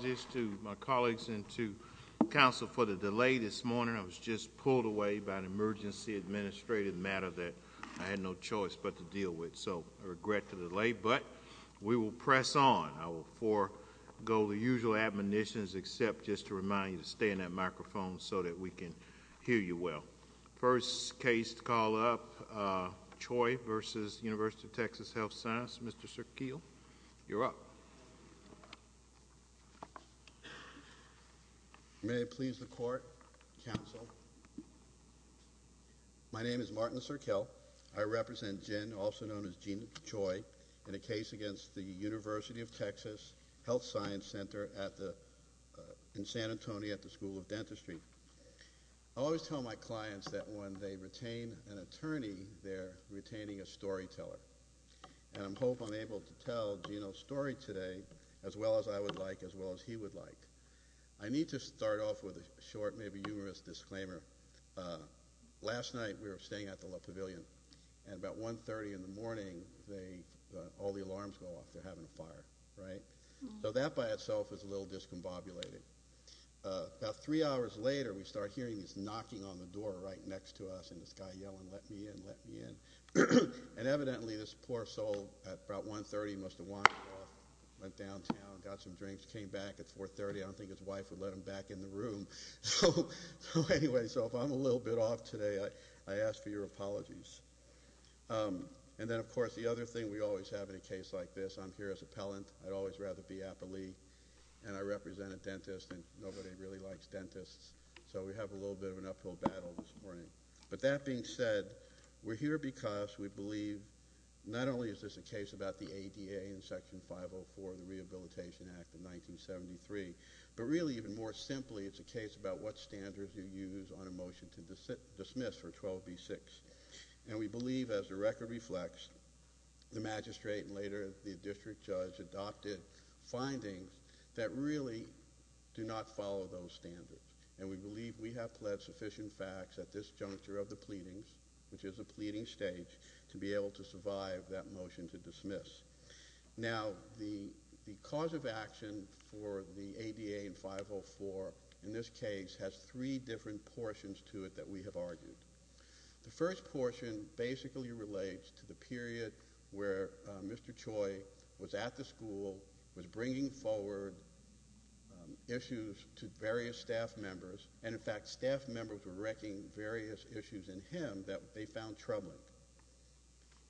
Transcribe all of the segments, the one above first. I apologize to my colleagues and to the council for the delay this morning. I was just pulled away by an emergency administrative matter that I had no choice but to deal with, so I regret the delay, but we will press on. I will forego the usual admonitions except just to remind you to stay in that microphone so that we can hear you well. First case to call up, Choi v. Univ. of TX Hlth Sci Ctr, Mr. Serkeel, you're up. May it please the court, counsel. My name is Martin Serkeel. I represent Jen, also known as Jean Choi, in a case against the Univ. of TX Hlth Sci Ctr. I have experienced the experience that when they retain an attorney, they're retaining a storyteller. I hope I'm able to tell Jean's story today as well as I would like, as well as he would like. I need to start off with a short, maybe humorous disclaimer. Last night we were staying at the La Pavilion, and about 1.30 in the morning, all the alarms go off. They're having a fire. So that by itself is a little discombobulated. About three hours later, we start hearing this knocking on the door right next to us, and this guy yelling, let me in, let me in. And evidently this poor soul at about 1.30 must have wandered off, went downtown, got some drinks, came back at 4.30. I don't think his wife would let him back in the room. So anyway, so if I'm a little bit off today, I ask for your apologies. And then of course the other thing we always have in a case like this, I'm here as appellant. I'd always rather be appellee. And I represent a dentist, and nobody really likes dentists. So we have a little bit of an uphill battle this morning. But that being said, we're here because we believe not only is this a case about the ADA in Section 504 of the Rehabilitation Act of 1973, but really even more simply it's a case about what standards you use on a motion to dismiss for 12b-6. And we believe, as the record reflects, the magistrate and later the district judge adopted findings that really do not follow those standards. And we believe we have pled sufficient facts at this juncture of the pleadings, which is a pleading stage, to be able to survive that motion to dismiss. Now, the cause of action for the ADA in 504 in this case has three different portions to it that we have argued. The first portion basically relates to the period where Mr. Choi was at the school, was bringing forward issues to various staff members. And in fact, staff members were wrecking various issues in him that they found troubling.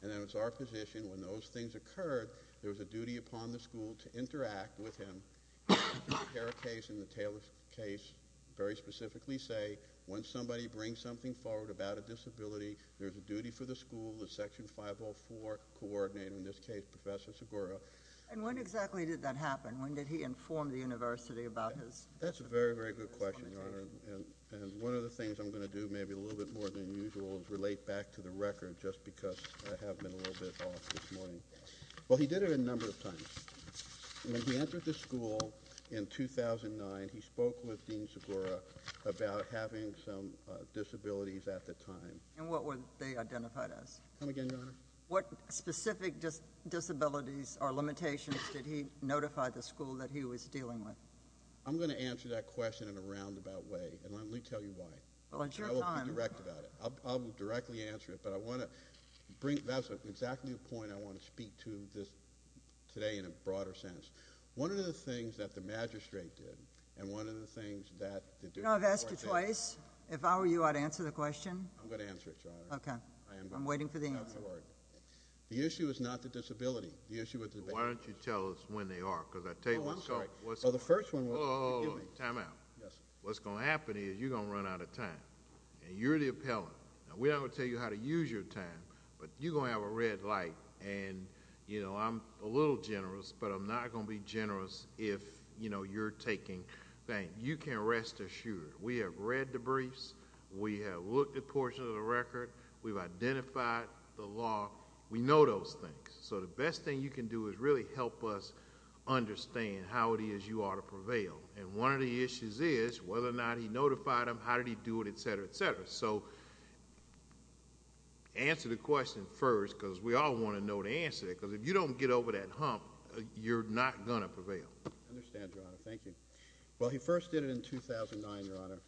And then it's our position, when those things occurred, there was a duty upon the school to interact with him. The Herrick case and the Taylor case very specifically say, when somebody brings something forward about a disability, there's a duty for the school, the Section 504 coordinator, in this case, Professor Segura. And when exactly did that happen? When did he inform the university about his... That's a very, very good question, Your Honor. And one of the things I'm going to do maybe a little bit more than usual is relate back to the record just because I have been a little bit off this morning. Well, he did it a number of times. When he entered the school in 2009, he spoke with Dean Segura about having some disabilities at the time. And what were they identified as? Come again, Your Honor. What specific disabilities or limitations did he notify the school that he was dealing with? I'm going to answer that question in a roundabout way. And let me tell you why. Well, it's your time. I will be direct about it. I will directly answer it, but I want to bring... That's exactly the point I want to speak to today in a broader sense. One of the things that the magistrate did and one of the things that... You know, I've asked you twice. If I were you, I'd answer the question. I'm going to answer it, Your Honor. Okay. I'm waiting for the answer. The issue is not the disability. The issue is... Why don't you tell us when they are? Because I tell you... Oh, I'm sorry. The first one was... Oh, time out. Yes, sir. What's going to happen is you're going to run out of time. And you're the appellant. Now, we're not going to tell you how to use your time, but you're going to have a red light. And, you know, I'm a little generous, but I'm not going to be generous if, you know, you're taking things. You can rest assured. We have read the briefs. We have looked at portions of the record. We've identified the law. We know those things. So the best thing you can do is really help us understand how it is you ought to prevail. And one of the issues is whether or not he notified them, how did he do it, et cetera, et cetera. So answer the question first because we all want to know the answer. Because if you don't get over that hump, you're not going to prevail. I understand, Your Honor. Thank you. Well, he first did it in 2009, Your Honor,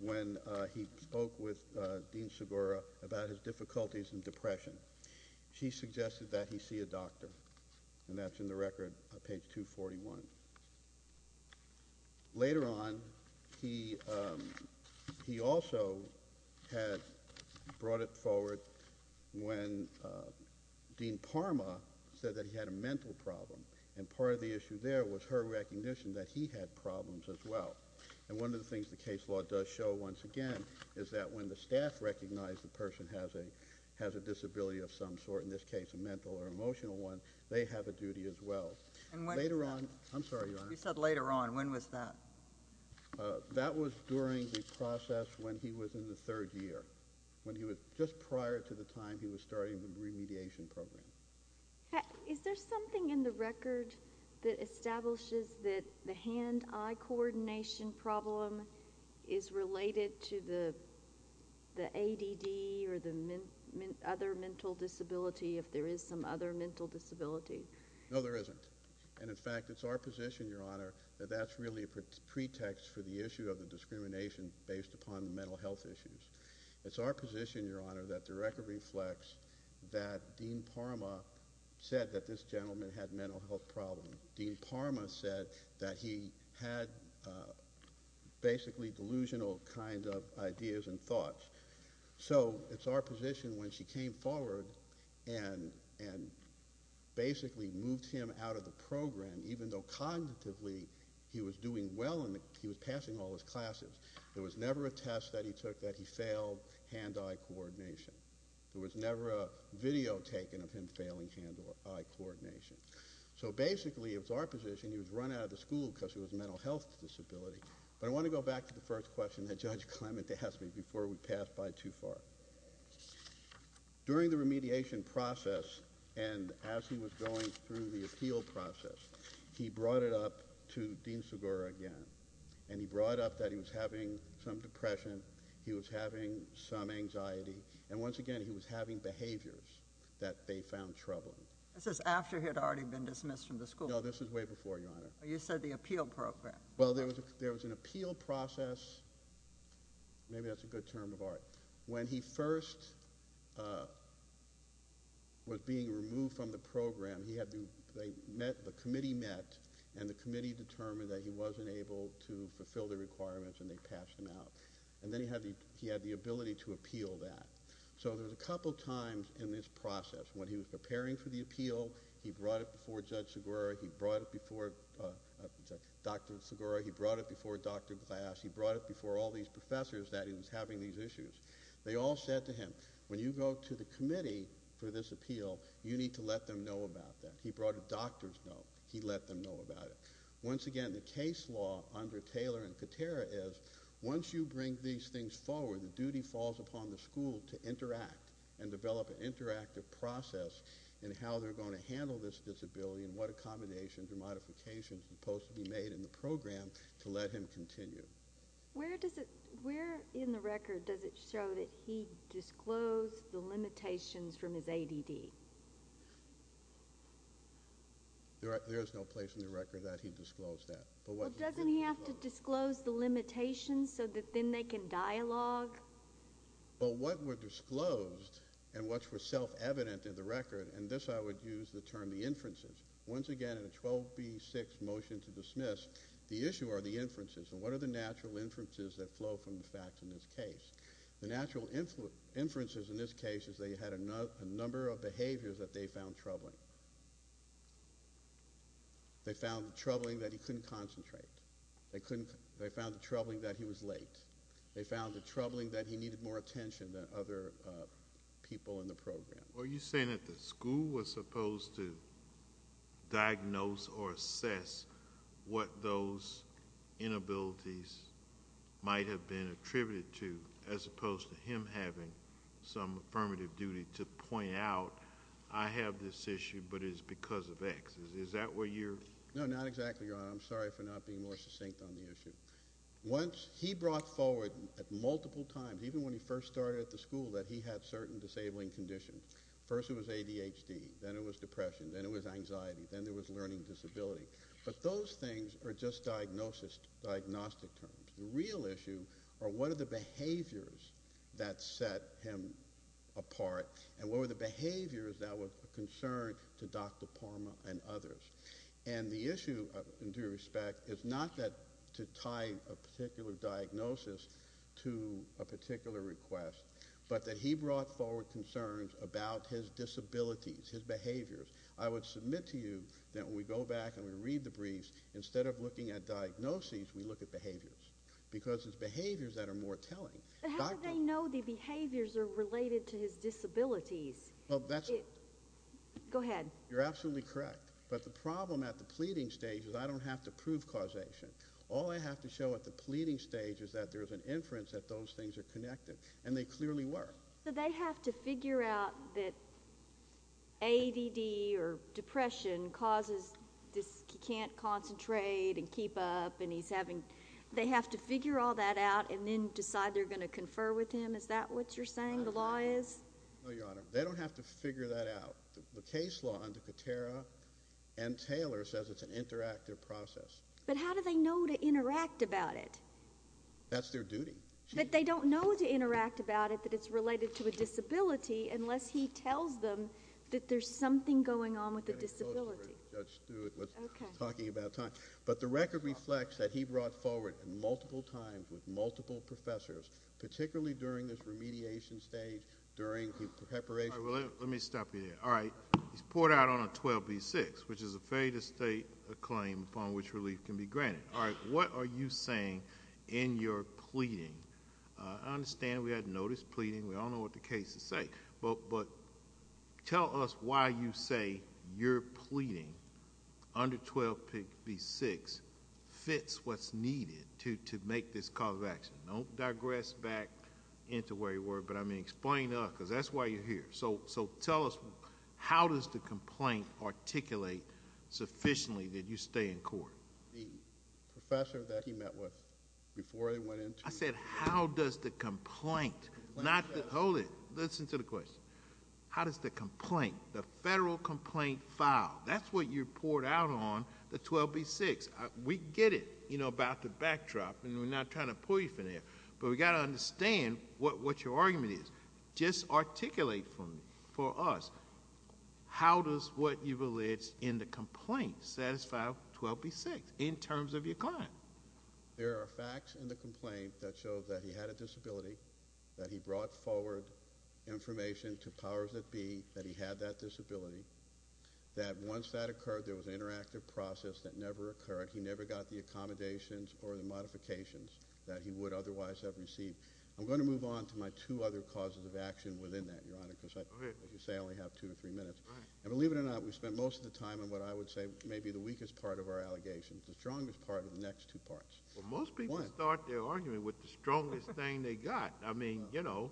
when he spoke with Dean Segura about his difficulties in depression. She suggested that he see a doctor. And that's in the record, page 241. Later on, he also had brought it forward when Dean Parma said that he had a mental problem. And part of the issue there was her recognition that he had problems as well. And one of the things the case law does show, once again, is that when the staff recognize the person has a disability of some sort, in this case a mental or emotional one, they have a duty as well. I'm sorry, Your Honor. You said later on. When was that? That was during the process when he was in the third year, just prior to the time he was starting the remediation program. Is there something in the record that establishes that the hand-eye coordination problem is related to the ADD or the other mental disability, if there is some other mental disability? No, there isn't. And, in fact, it's our position, Your Honor, that that's really a pretext for the issue of the discrimination based upon mental health issues. It's our position, Your Honor, that the record reflects that Dean Parma said that this gentleman had a mental health problem. Dean Parma said that he had basically delusional kind of ideas and thoughts. So it's our position when she came forward and basically moved him out of the program, even though cognitively he was doing well and he was passing all his classes, there was never a test that he took that he failed hand-eye coordination. There was never a video taken of him failing hand-eye coordination. So, basically, it was our position he was run out of the school because he was a mental health disability. But I want to go back to the first question that Judge Clement asked me before we pass by too far. During the remediation process and as he was going through the appeal process, he brought it up to Dean Segura again, and he brought up that he was having some depression, he was having some anxiety, and, once again, he was having behaviors that they found troubling. This is after he had already been dismissed from the school. No, this is way before, Your Honor. You said the appeal program. Well, there was an appeal process. Maybe that's a good term of art. When he first was being removed from the program, the committee met, and the committee determined that he wasn't able to fulfill the requirements, and they passed him out. And then he had the ability to appeal that. So there was a couple times in this process when he was preparing for the appeal, he brought it before Judge Segura, he brought it before Dr. Segura, he brought it before Dr. Glass, he brought it before all these professors that he was having these issues. They all said to him, when you go to the committee for this appeal, you need to let them know about that. He brought a doctor's note. He let them know about it. Once again, the case law under Taylor and Katera is, once you bring these things forward, the duty falls upon the school to interact and develop an interactive process in how they're going to handle this disability and what accommodations and modifications are supposed to be made in the program to let him continue. Where in the record does it show that he disclosed the limitations from his ADD? There is no place in the record that he disclosed that. Well, doesn't he have to disclose the limitations so that then they can dialogue? Well, what were disclosed and what were self-evident in the record, and this I would use the term the inferences, once again in a 12B6 motion to dismiss, the issue are the inferences, and what are the natural inferences that flow from the facts in this case? The natural inferences in this case is they had a number of behaviors that they found troubling. They found the troubling that he couldn't concentrate. They found the troubling that he was late. They found the troubling that he needed more attention than other people in the program. Are you saying that the school was supposed to diagnose or assess what those inabilities might have been attributed to, as opposed to him having some affirmative duty to point out, I have this issue, but it's because of X. Is that what you're? No, not exactly, Your Honor. I'm sorry for not being more succinct on the issue. Once he brought forward multiple times, even when he first started at the school, that he had certain disabling conditions. First it was ADHD. Then it was depression. Then it was anxiety. Then there was learning disability. But those things are just diagnostic terms. The real issue are what are the behaviors that set him apart, and what were the behaviors that were of concern to Dr. Parma and others? The issue, in due respect, is not to tie a particular diagnosis to a particular request, but that he brought forward concerns about his disabilities, his behaviors. I would submit to you that when we go back and we read the briefs, instead of looking at diagnoses, we look at behaviors, because it's behaviors that are more telling. How do they know the behaviors are related to his disabilities? Go ahead. You're absolutely correct. But the problem at the pleading stage is I don't have to prove causation. All I have to show at the pleading stage is that there's an inference that those things are connected, and they clearly were. But they have to figure out that ADD or depression causes this can't concentrate and keep up. They have to figure all that out and then decide they're going to confer with him. Is that what you're saying the law is? No, Your Honor. They don't have to figure that out. The case law under Catera and Taylor says it's an interactive process. But how do they know to interact about it? That's their duty. But they don't know to interact about it that it's related to a disability unless he tells them that there's something going on with the disability. Judge Stewart was talking about time. But the record reflects that he brought forward multiple times with multiple professors, particularly during this remediation stage, during the preparation. All right. Let me stop you there. All right. He's poured out on a 12B6, which is a failure to state a claim upon which relief can be granted. All right. What are you saying in your pleading? I understand we had notice pleading. We all know what the case is saying. But tell us why you say your pleading under 12B6 fits what's needed to make this cause of action. Don't digress back into where you were. But, I mean, explain because that's why you're here. So tell us how does the complaint articulate sufficiently that you stay in court? The professor that he met with before they went into it. I said how does the complaint not hold it. Listen to the question. How does the complaint, the federal complaint, file? That's what you poured out on the 12B6. We get it, you know, about the backdrop. And we're not trying to pull you from there. But we've got to understand what your argument is. Just articulate for us how does what you've alleged in the complaint satisfy 12B6 in terms of your client? There are facts in the complaint that show that he had a disability, that he brought forward information to powers that be that he had that disability, that once that occurred there was an interactive process that never occurred. He never got the accommodations or the modifications that he would otherwise have received. I'm going to move on to my two other causes of action within that, Your Honor, because I, as you say, only have two to three minutes. And believe it or not, we spent most of the time on what I would say may be the weakest part of our allegations, the strongest part of the next two parts. Well, most people start their argument with the strongest thing they got. I mean, you know,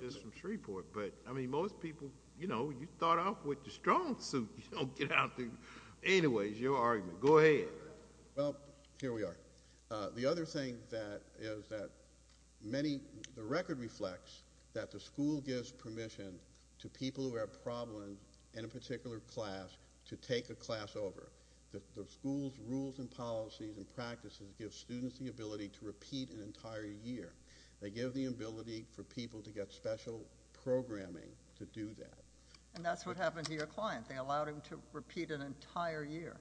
just from Shreveport. But, I mean, most people, you know, you start off with the strong suit. Anyway, it's your argument. Go ahead. Well, here we are. The other thing that is that many, the record reflects that the school gives permission to people who have problems in a particular class to take a class over. The school's rules and policies and practices give students the ability to repeat an entire year. They give the ability for people to get special programming to do that. And that's what happened to your client. They allowed him to repeat an entire year.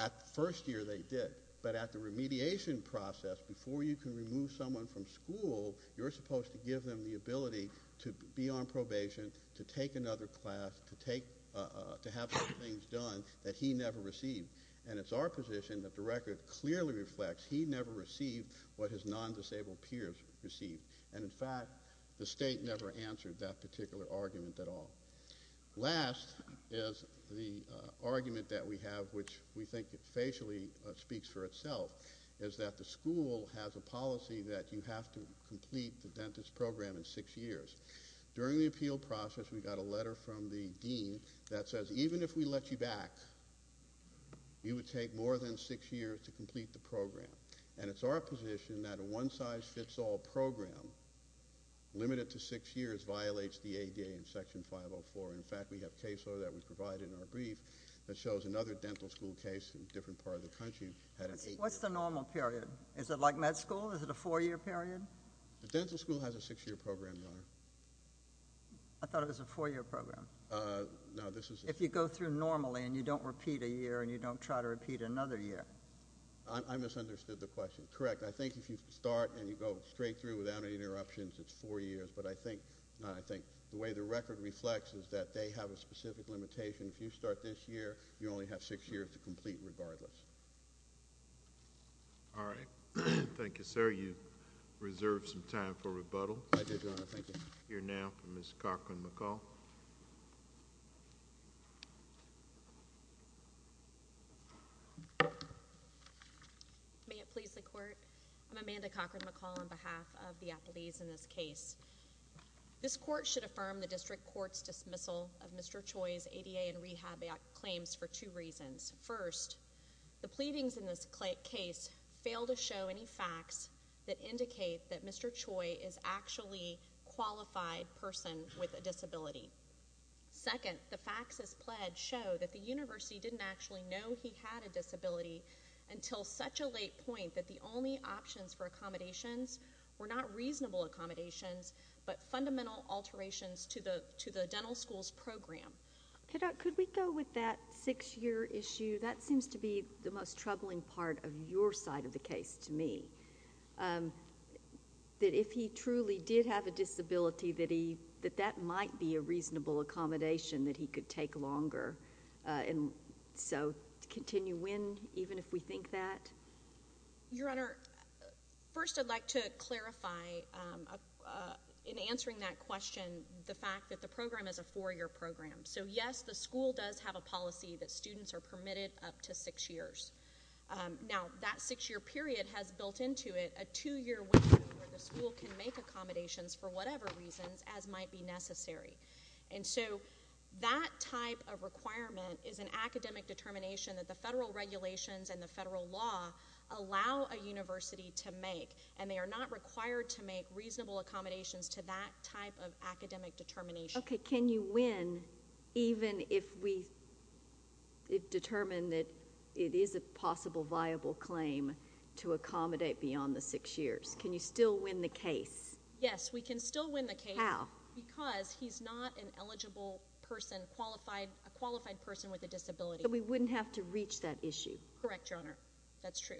At the first year, they did. But at the remediation process, before you can remove someone from school, you're supposed to give them the ability to be on probation, to take another class, to have some things done that he never received. And it's our position that the record clearly reflects he never received what his non-disabled peers received. And, in fact, the state never answered that particular argument at all. Last is the argument that we have, which we think it facially speaks for itself, is that the school has a policy that you have to complete the dentist program in six years. During the appeal process, we got a letter from the dean that says even if we let you back, you would take more than six years to complete the program. And it's our position that a one-size-fits-all program limited to six years violates the ADA in Section 504. In fact, we have case law that was provided in our brief that shows another dental school case in a different part of the country had an eight-year period. What's the normal period? Is it like med school? Is it a four-year period? The dental school has a six-year program, Your Honor. I thought it was a four-year program. If you go through normally and you don't repeat a year and you don't try to repeat another year. I misunderstood the question. Correct. I think if you start and you go straight through without any interruptions, it's four years. But I think the way the record reflects is that they have a specific limitation. If you start this year, you only have six years to complete regardless. All right. Thank you, sir. You reserved some time for rebuttal. I did, Your Honor. Thank you. We'll hear now from Ms. Cochran-McCall. May it please the Court? I'm Amanda Cochran-McCall on behalf of the appellees in this case. This court should affirm the district court's dismissal of Mr. Choi's ADA and Rehab Act claims for two reasons. First, the pleadings in this case fail to show any facts that indicate that Mr. Choi is actually a qualified person with a disability. Second, the facts as pledged show that the university didn't actually know he had a disability until such a late point that the only options for accommodations were not reasonable accommodations but fundamental alterations to the dental schools program. Could we go with that six-year issue? That seems to be the most troubling part of your side of the case to me, that if he truly did have a disability, that that might be a reasonable accommodation that he could take longer. And so continue when even if we think that? Your Honor, first I'd like to clarify in answering that question the fact that the program is a four-year program. So yes, the school does have a policy that students are permitted up to six years. Now, that six-year period has built into it a two-year window where the school can make accommodations for whatever reasons as might be necessary. And so that type of requirement is an academic determination that the federal regulations and the federal law allow a university to make. And they are not required to make reasonable accommodations to that type of academic determination. Okay. Can you win even if we determine that it is a possible viable claim to accommodate beyond the six years? Can you still win the case? Yes, we can still win the case. How? Because he's not an eligible person, a qualified person with a disability. So we wouldn't have to reach that issue? Correct, Your Honor. That's true.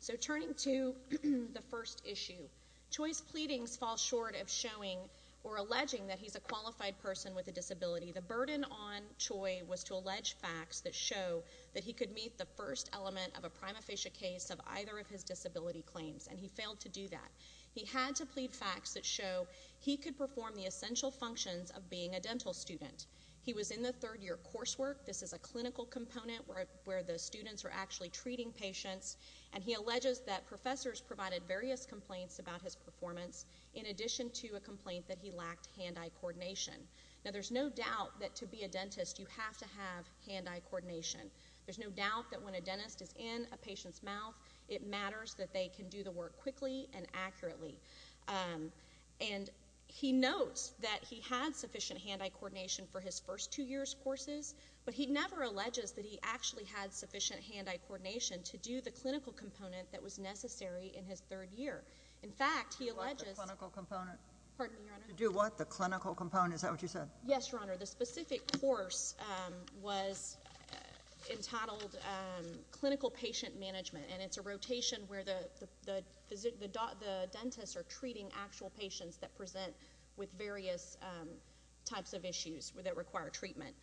So turning to the first issue, Choi's pleadings fall short of showing or alleging that he's a qualified person with a disability. The burden on Choi was to allege facts that show that he could meet the first element of a prima facie case of either of his disability claims, and he failed to do that. He had to plead facts that show he could perform the essential functions of being a dental student. He was in the third-year coursework. This is a clinical component where the students are actually treating patients. And he alleges that professors provided various complaints about his performance in addition to a complaint that he lacked hand-eye coordination. Now, there's no doubt that to be a dentist, you have to have hand-eye coordination. There's no doubt that when a dentist is in a patient's mouth, it matters that they can do the work quickly and accurately. And he notes that he had sufficient hand-eye coordination for his first two years' courses, but he never alleges that he actually had sufficient hand-eye coordination to do the clinical component that was necessary in his third year. In fact, he alleges— What's the clinical component? Pardon me, Your Honor? To do what? The clinical component? Is that what you said? Yes, Your Honor. The specific course was entitled Clinical Patient Management, and it's a rotation where the dentists are treating actual patients that present with various types of issues that require treatment.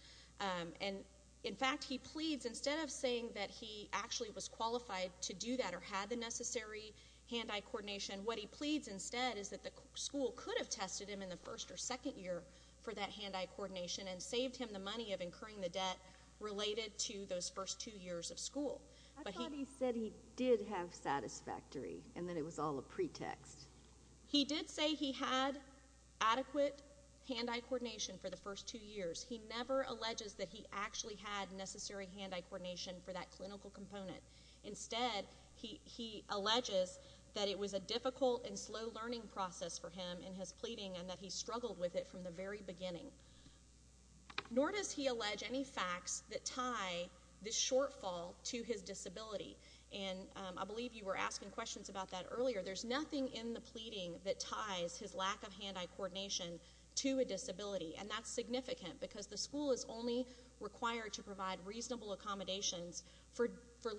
And, in fact, he pleads— Instead of saying that he actually was qualified to do that or had the necessary hand-eye coordination, what he pleads instead is that the school could have tested him in the first or second year for that hand-eye coordination and saved him the money of incurring the debt related to those first two years of school. I thought he said he did have satisfactory and that it was all a pretext. He did say he had adequate hand-eye coordination for the first two years. He never alleges that he actually had necessary hand-eye coordination for that clinical component. Instead, he alleges that it was a difficult and slow learning process for him in his pleading and that he struggled with it from the very beginning. Nor does he allege any facts that tie this shortfall to his disability. And I believe you were asking questions about that earlier. There's nothing in the pleading that ties his lack of hand-eye coordination to a disability, and that's significant because the school is only required to provide reasonable accommodations for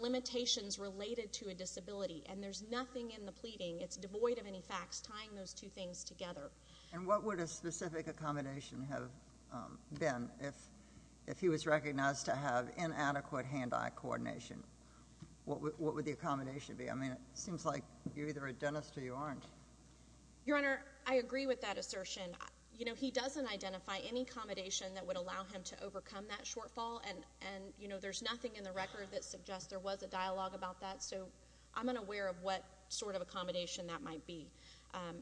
limitations related to a disability, and there's nothing in the pleading. It's devoid of any facts tying those two things together. And what would a specific accommodation have been if he was recognized to have inadequate hand-eye coordination? What would the accommodation be? I mean, it seems like you're either a dentist or you aren't. Your Honor, I agree with that assertion. You know, he doesn't identify any accommodation that would allow him to overcome that shortfall, and, you know, there's nothing in the record that suggests there was a dialogue about that, so I'm unaware of what sort of accommodation that might be.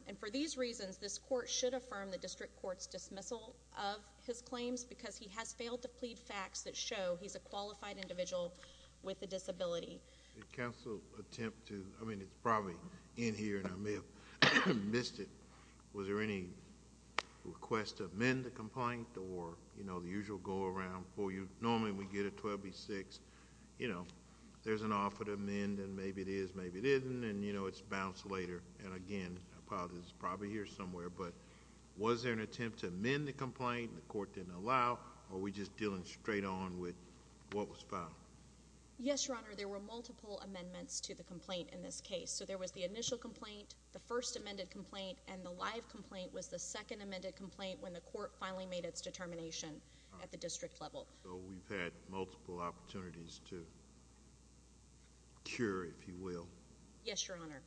And for these reasons, this court should affirm the district court's dismissal of his claims because he has failed to plead facts that show he's a qualified individual with a disability. Did counsel attempt toóI mean, it's probably in here, and I may have missed it. Was there any request to amend the complaint or, you know, the usual go-around for you? Normally we get a 12B6. You know, there's an offer to amend, and maybe it is, maybe it isn't, and, you know, it's bounced later. And again, I apologize, it's probably here somewhere. But was there an attempt to amend the complaint, and the court didn't allow, or were we just dealing straight on with what was filed? Yes, Your Honor, there were multiple amendments to the complaint in this case. So there was the initial complaint, the first amended complaint, and the live complaint was the second amended complaint when the court finally made its determination at the district level. So we've had multiple opportunities to cure, if you will. Yes, Your Honor.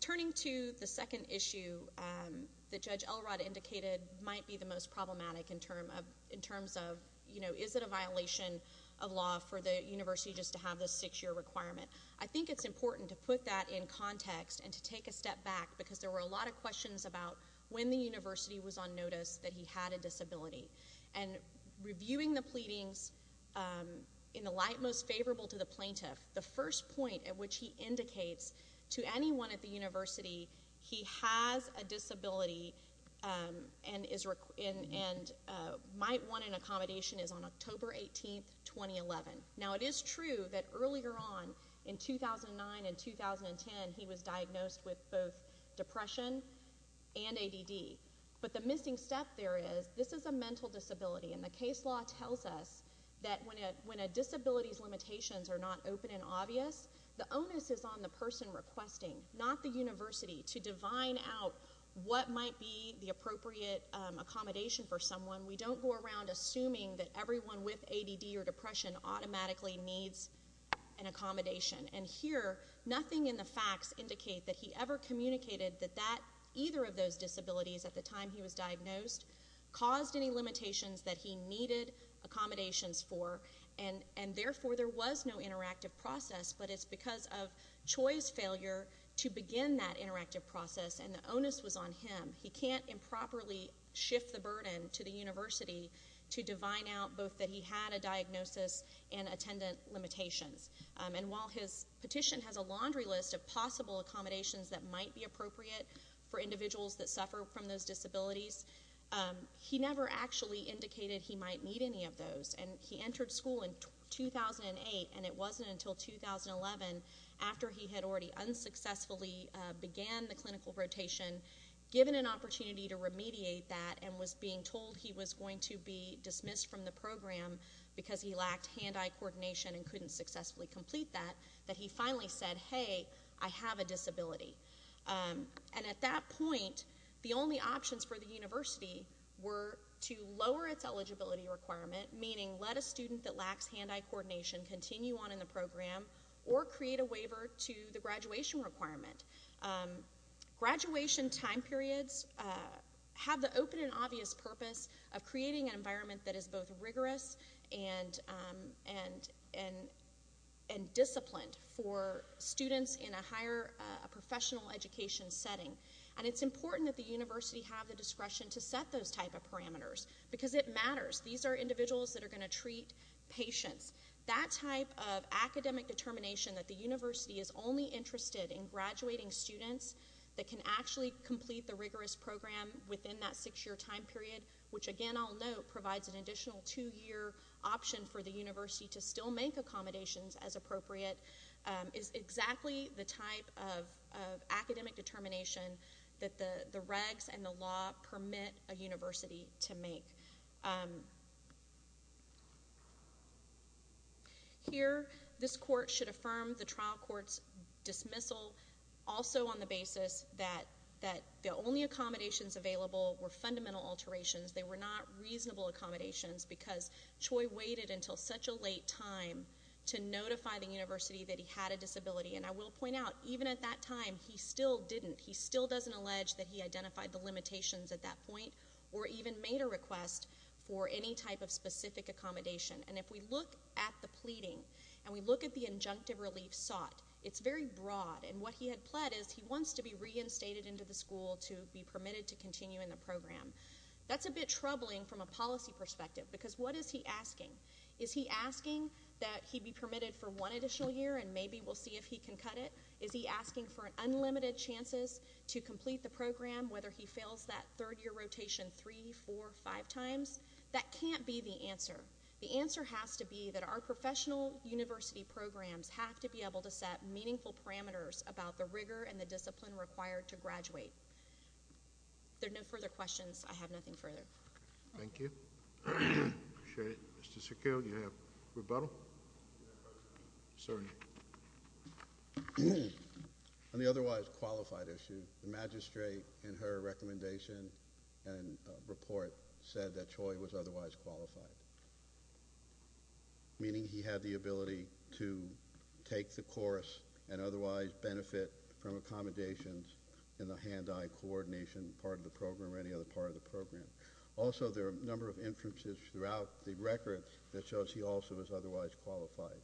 Turning to the second issue that Judge Elrod indicated might be the most problematic in terms of, you know, is it a violation of law for the university just to have this six-year requirement? I think it's important to put that in context and to take a step back because there were a lot of questions about when the university was on notice that he had a disability. And reviewing the pleadings in the light most favorable to the plaintiff, the first point at which he indicates to anyone at the university he has a disability and might want an accommodation is on October 18, 2011. Now, it is true that earlier on in 2009 and 2010 he was diagnosed with both depression and ADD. But the missing step there is this is a mental disability, and the case law tells us that when a disability's limitations are not open and obvious, the onus is on the person requesting, not the university, to divine out what might be the appropriate accommodation for someone. We don't go around assuming that everyone with ADD or depression automatically needs an accommodation. And here, nothing in the facts indicate that he ever communicated that either of those disabilities at the time he was diagnosed caused any limitations that he needed accommodations for, and therefore there was no interactive process. But it's because of Choi's failure to begin that interactive process, and the onus was on him. He can't improperly shift the burden to the university to divine out both that he had a diagnosis and attendant limitations. And while his petition has a laundry list of possible accommodations that might be appropriate for individuals that suffer from those disabilities, he never actually indicated he might need any of those. And he entered school in 2008, and it wasn't until 2011, after he had already unsuccessfully began the clinical rotation, given an opportunity to remediate that, and was being told he was going to be dismissed from the program because he lacked hand-eye coordination and couldn't successfully complete that, that he finally said, hey, I have a disability. And at that point, the only options for the university were to lower its eligibility requirement, meaning let a student that lacks hand-eye coordination continue on in the program, or create a waiver to the graduation requirement. Graduation time periods have the open and obvious purpose of creating an environment that is both rigorous and disciplined for students in a higher professional education setting. And it's important that the university have the discretion to set those type of parameters, because it matters. These are individuals that are going to treat patients. That type of academic determination that the university is only interested in graduating students that can actually complete the rigorous program within that six-year time period, which again I'll note provides an additional two-year option for the university to still make accommodations as appropriate, is exactly the type of academic determination that the regs and the law permit a university to make. Here, this court should affirm the trial court's dismissal also on the basis that the only accommodations available were fundamental alterations. They were not reasonable accommodations, because Choi waited until such a late time to notify the university that he had a disability. And I will point out, even at that time, he still didn't. He still doesn't allege that he identified the limitations at that point, or even made a request for any type of specific accommodation. And if we look at the pleading, and we look at the injunctive relief sought, it's very broad, and what he had pled is he wants to be reinstated into the school to be permitted to continue in the program. That's a bit troubling from a policy perspective, because what is he asking? Is he asking that he be permitted for one additional year, and maybe we'll see if he can cut it? Is he asking for unlimited chances to complete the program, whether he fails that third-year rotation three, four, five times? That can't be the answer. The answer has to be that our professional university programs have to be able to set meaningful parameters about the rigor and the discipline required to graduate. If there are no further questions, I have nothing further. Thank you. I appreciate it. Mr. Secure, do you have rebuttal? Sir. On the otherwise qualified issue, the magistrate, in her recommendation and report, said that Choi was otherwise qualified, meaning he had the ability to take the course and otherwise benefit from accommodations in the hand-eye coordination part of the program or any other part of the program. Also, there are a number of inferences throughout the records that shows he also was otherwise qualified.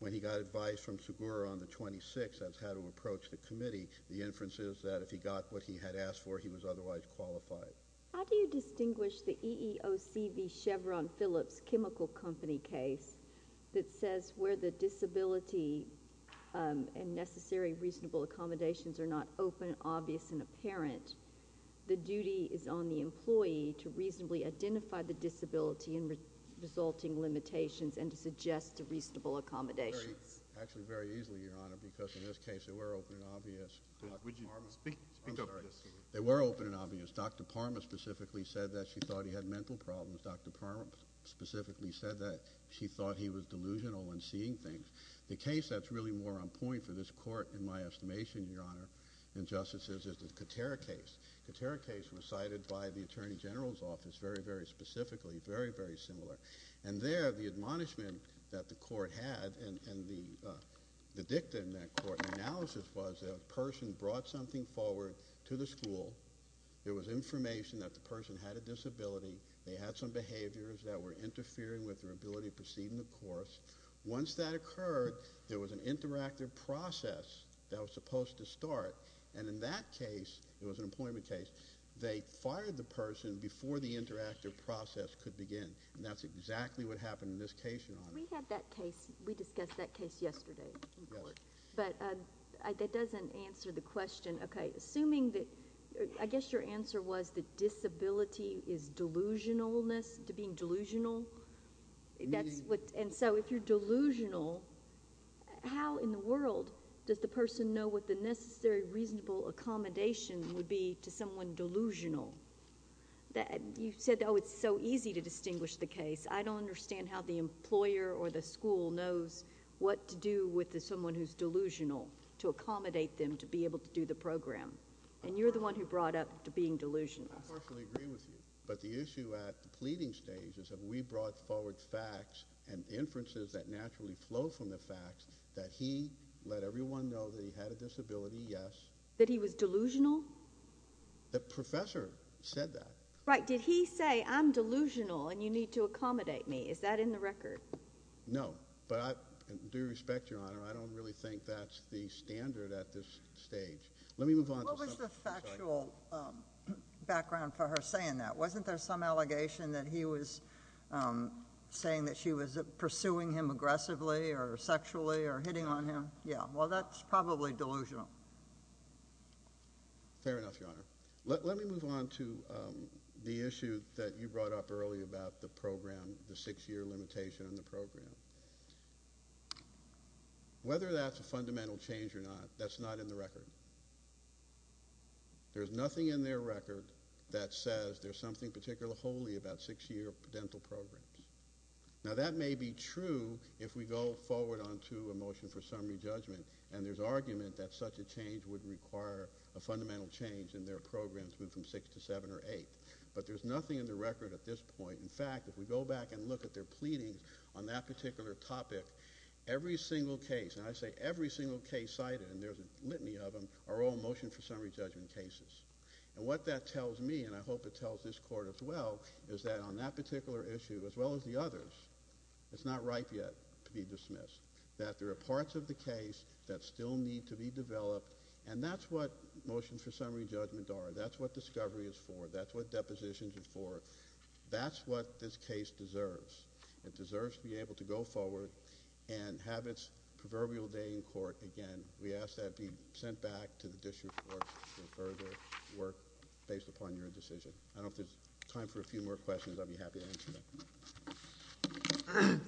When he got advice from Secure on the 26th as how to approach the committee, the inference is that if he got what he had asked for, he was otherwise qualified. How do you distinguish the EEOC v. Chevron Phillips chemical company case that says where the disability and necessary reasonable accommodations are not open, obvious, and apparent, the duty is on the employee to reasonably identify the disability and resulting limitations and to suggest reasonable accommodations? Actually, very easily, Your Honor, because in this case they were open and obvious. Would you speak up? They were open and obvious. Dr. Parma specifically said that she thought he had mental problems. Dr. Parma specifically said that she thought he was delusional in seeing things. The case that's really more on point for this Court, in my estimation, Your Honor, in justices is the Katera case. The Katera case was cited by the Attorney General's Office very, very specifically, very, very similar. And there, the admonishment that the Court had and the dicta in that Court analysis was that a person brought something forward to the school, there was information that the person had a disability, they had some behaviors that were interfering with their ability to proceed in the course. Once that occurred, there was an interactive process that was supposed to start, and in that case, it was an employment case, they fired the person before the interactive process could begin. And that's exactly what happened in this case, Your Honor. We had that case. We discussed that case yesterday. Yes. But that doesn't answer the question. Okay. Assuming that... I guess your answer was that disability is delusionalness, to being delusional? Meaning... And so, if you're delusional, how in the world does the person know what the necessary reasonable accommodation would be to someone delusional? You said, oh, it's so easy to distinguish the case. I don't understand how the employer or the school knows what to do with someone who's delusional to accommodate them to be able to do the program. And you're the one who brought up being delusional. I partially agree with you. But the issue at the pleading stage is that we brought forward facts and inferences that naturally flow from the facts, that he let everyone know that he had a disability, yes. That he was delusional? The professor said that. Right. Did he say, I'm delusional and you need to accommodate me? Is that in the record? No. But I do respect your honor. I don't really think that's the standard at this stage. Let me move on to... What was the factual background for her saying that? Wasn't there some allegation that he was saying that she was pursuing him aggressively or sexually or hitting on him? Yeah. Well, that's probably delusional. Fair enough, your honor. Let me move on to the issue that you brought up earlier about the program, the six-year limitation on the program. Whether that's a fundamental change or not, that's not in the record. There's nothing in their record that says there's something particularly holy about six-year dental programs. Now, that may be true if we go forward on to a motion for summary judgment and there's argument that such a change would require a fundamental change and their programs move from six to seven or eight. But there's nothing in the record at this point. In fact, if we go back and look at their pleadings on that particular topic, every single case, and I say every single case cited, and there's a litany of them, are all motion for summary judgment cases. And what that tells me, and I hope it tells this court as well, is that on that particular issue as well as the others, it's not ripe yet to be dismissed, that there are parts of the case that still need to be developed, and that's what motions for summary judgment are. That's what discovery is for. That's what depositions are for. That's what this case deserves. It deserves to be able to go forward and have its proverbial day in court again. We ask that it be sent back to the district court for further work based upon your decision. I don't know if there's time for a few more questions. I'd be happy to answer them.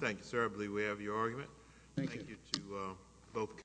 Thank you, sir. I believe we have your argument. Thank you.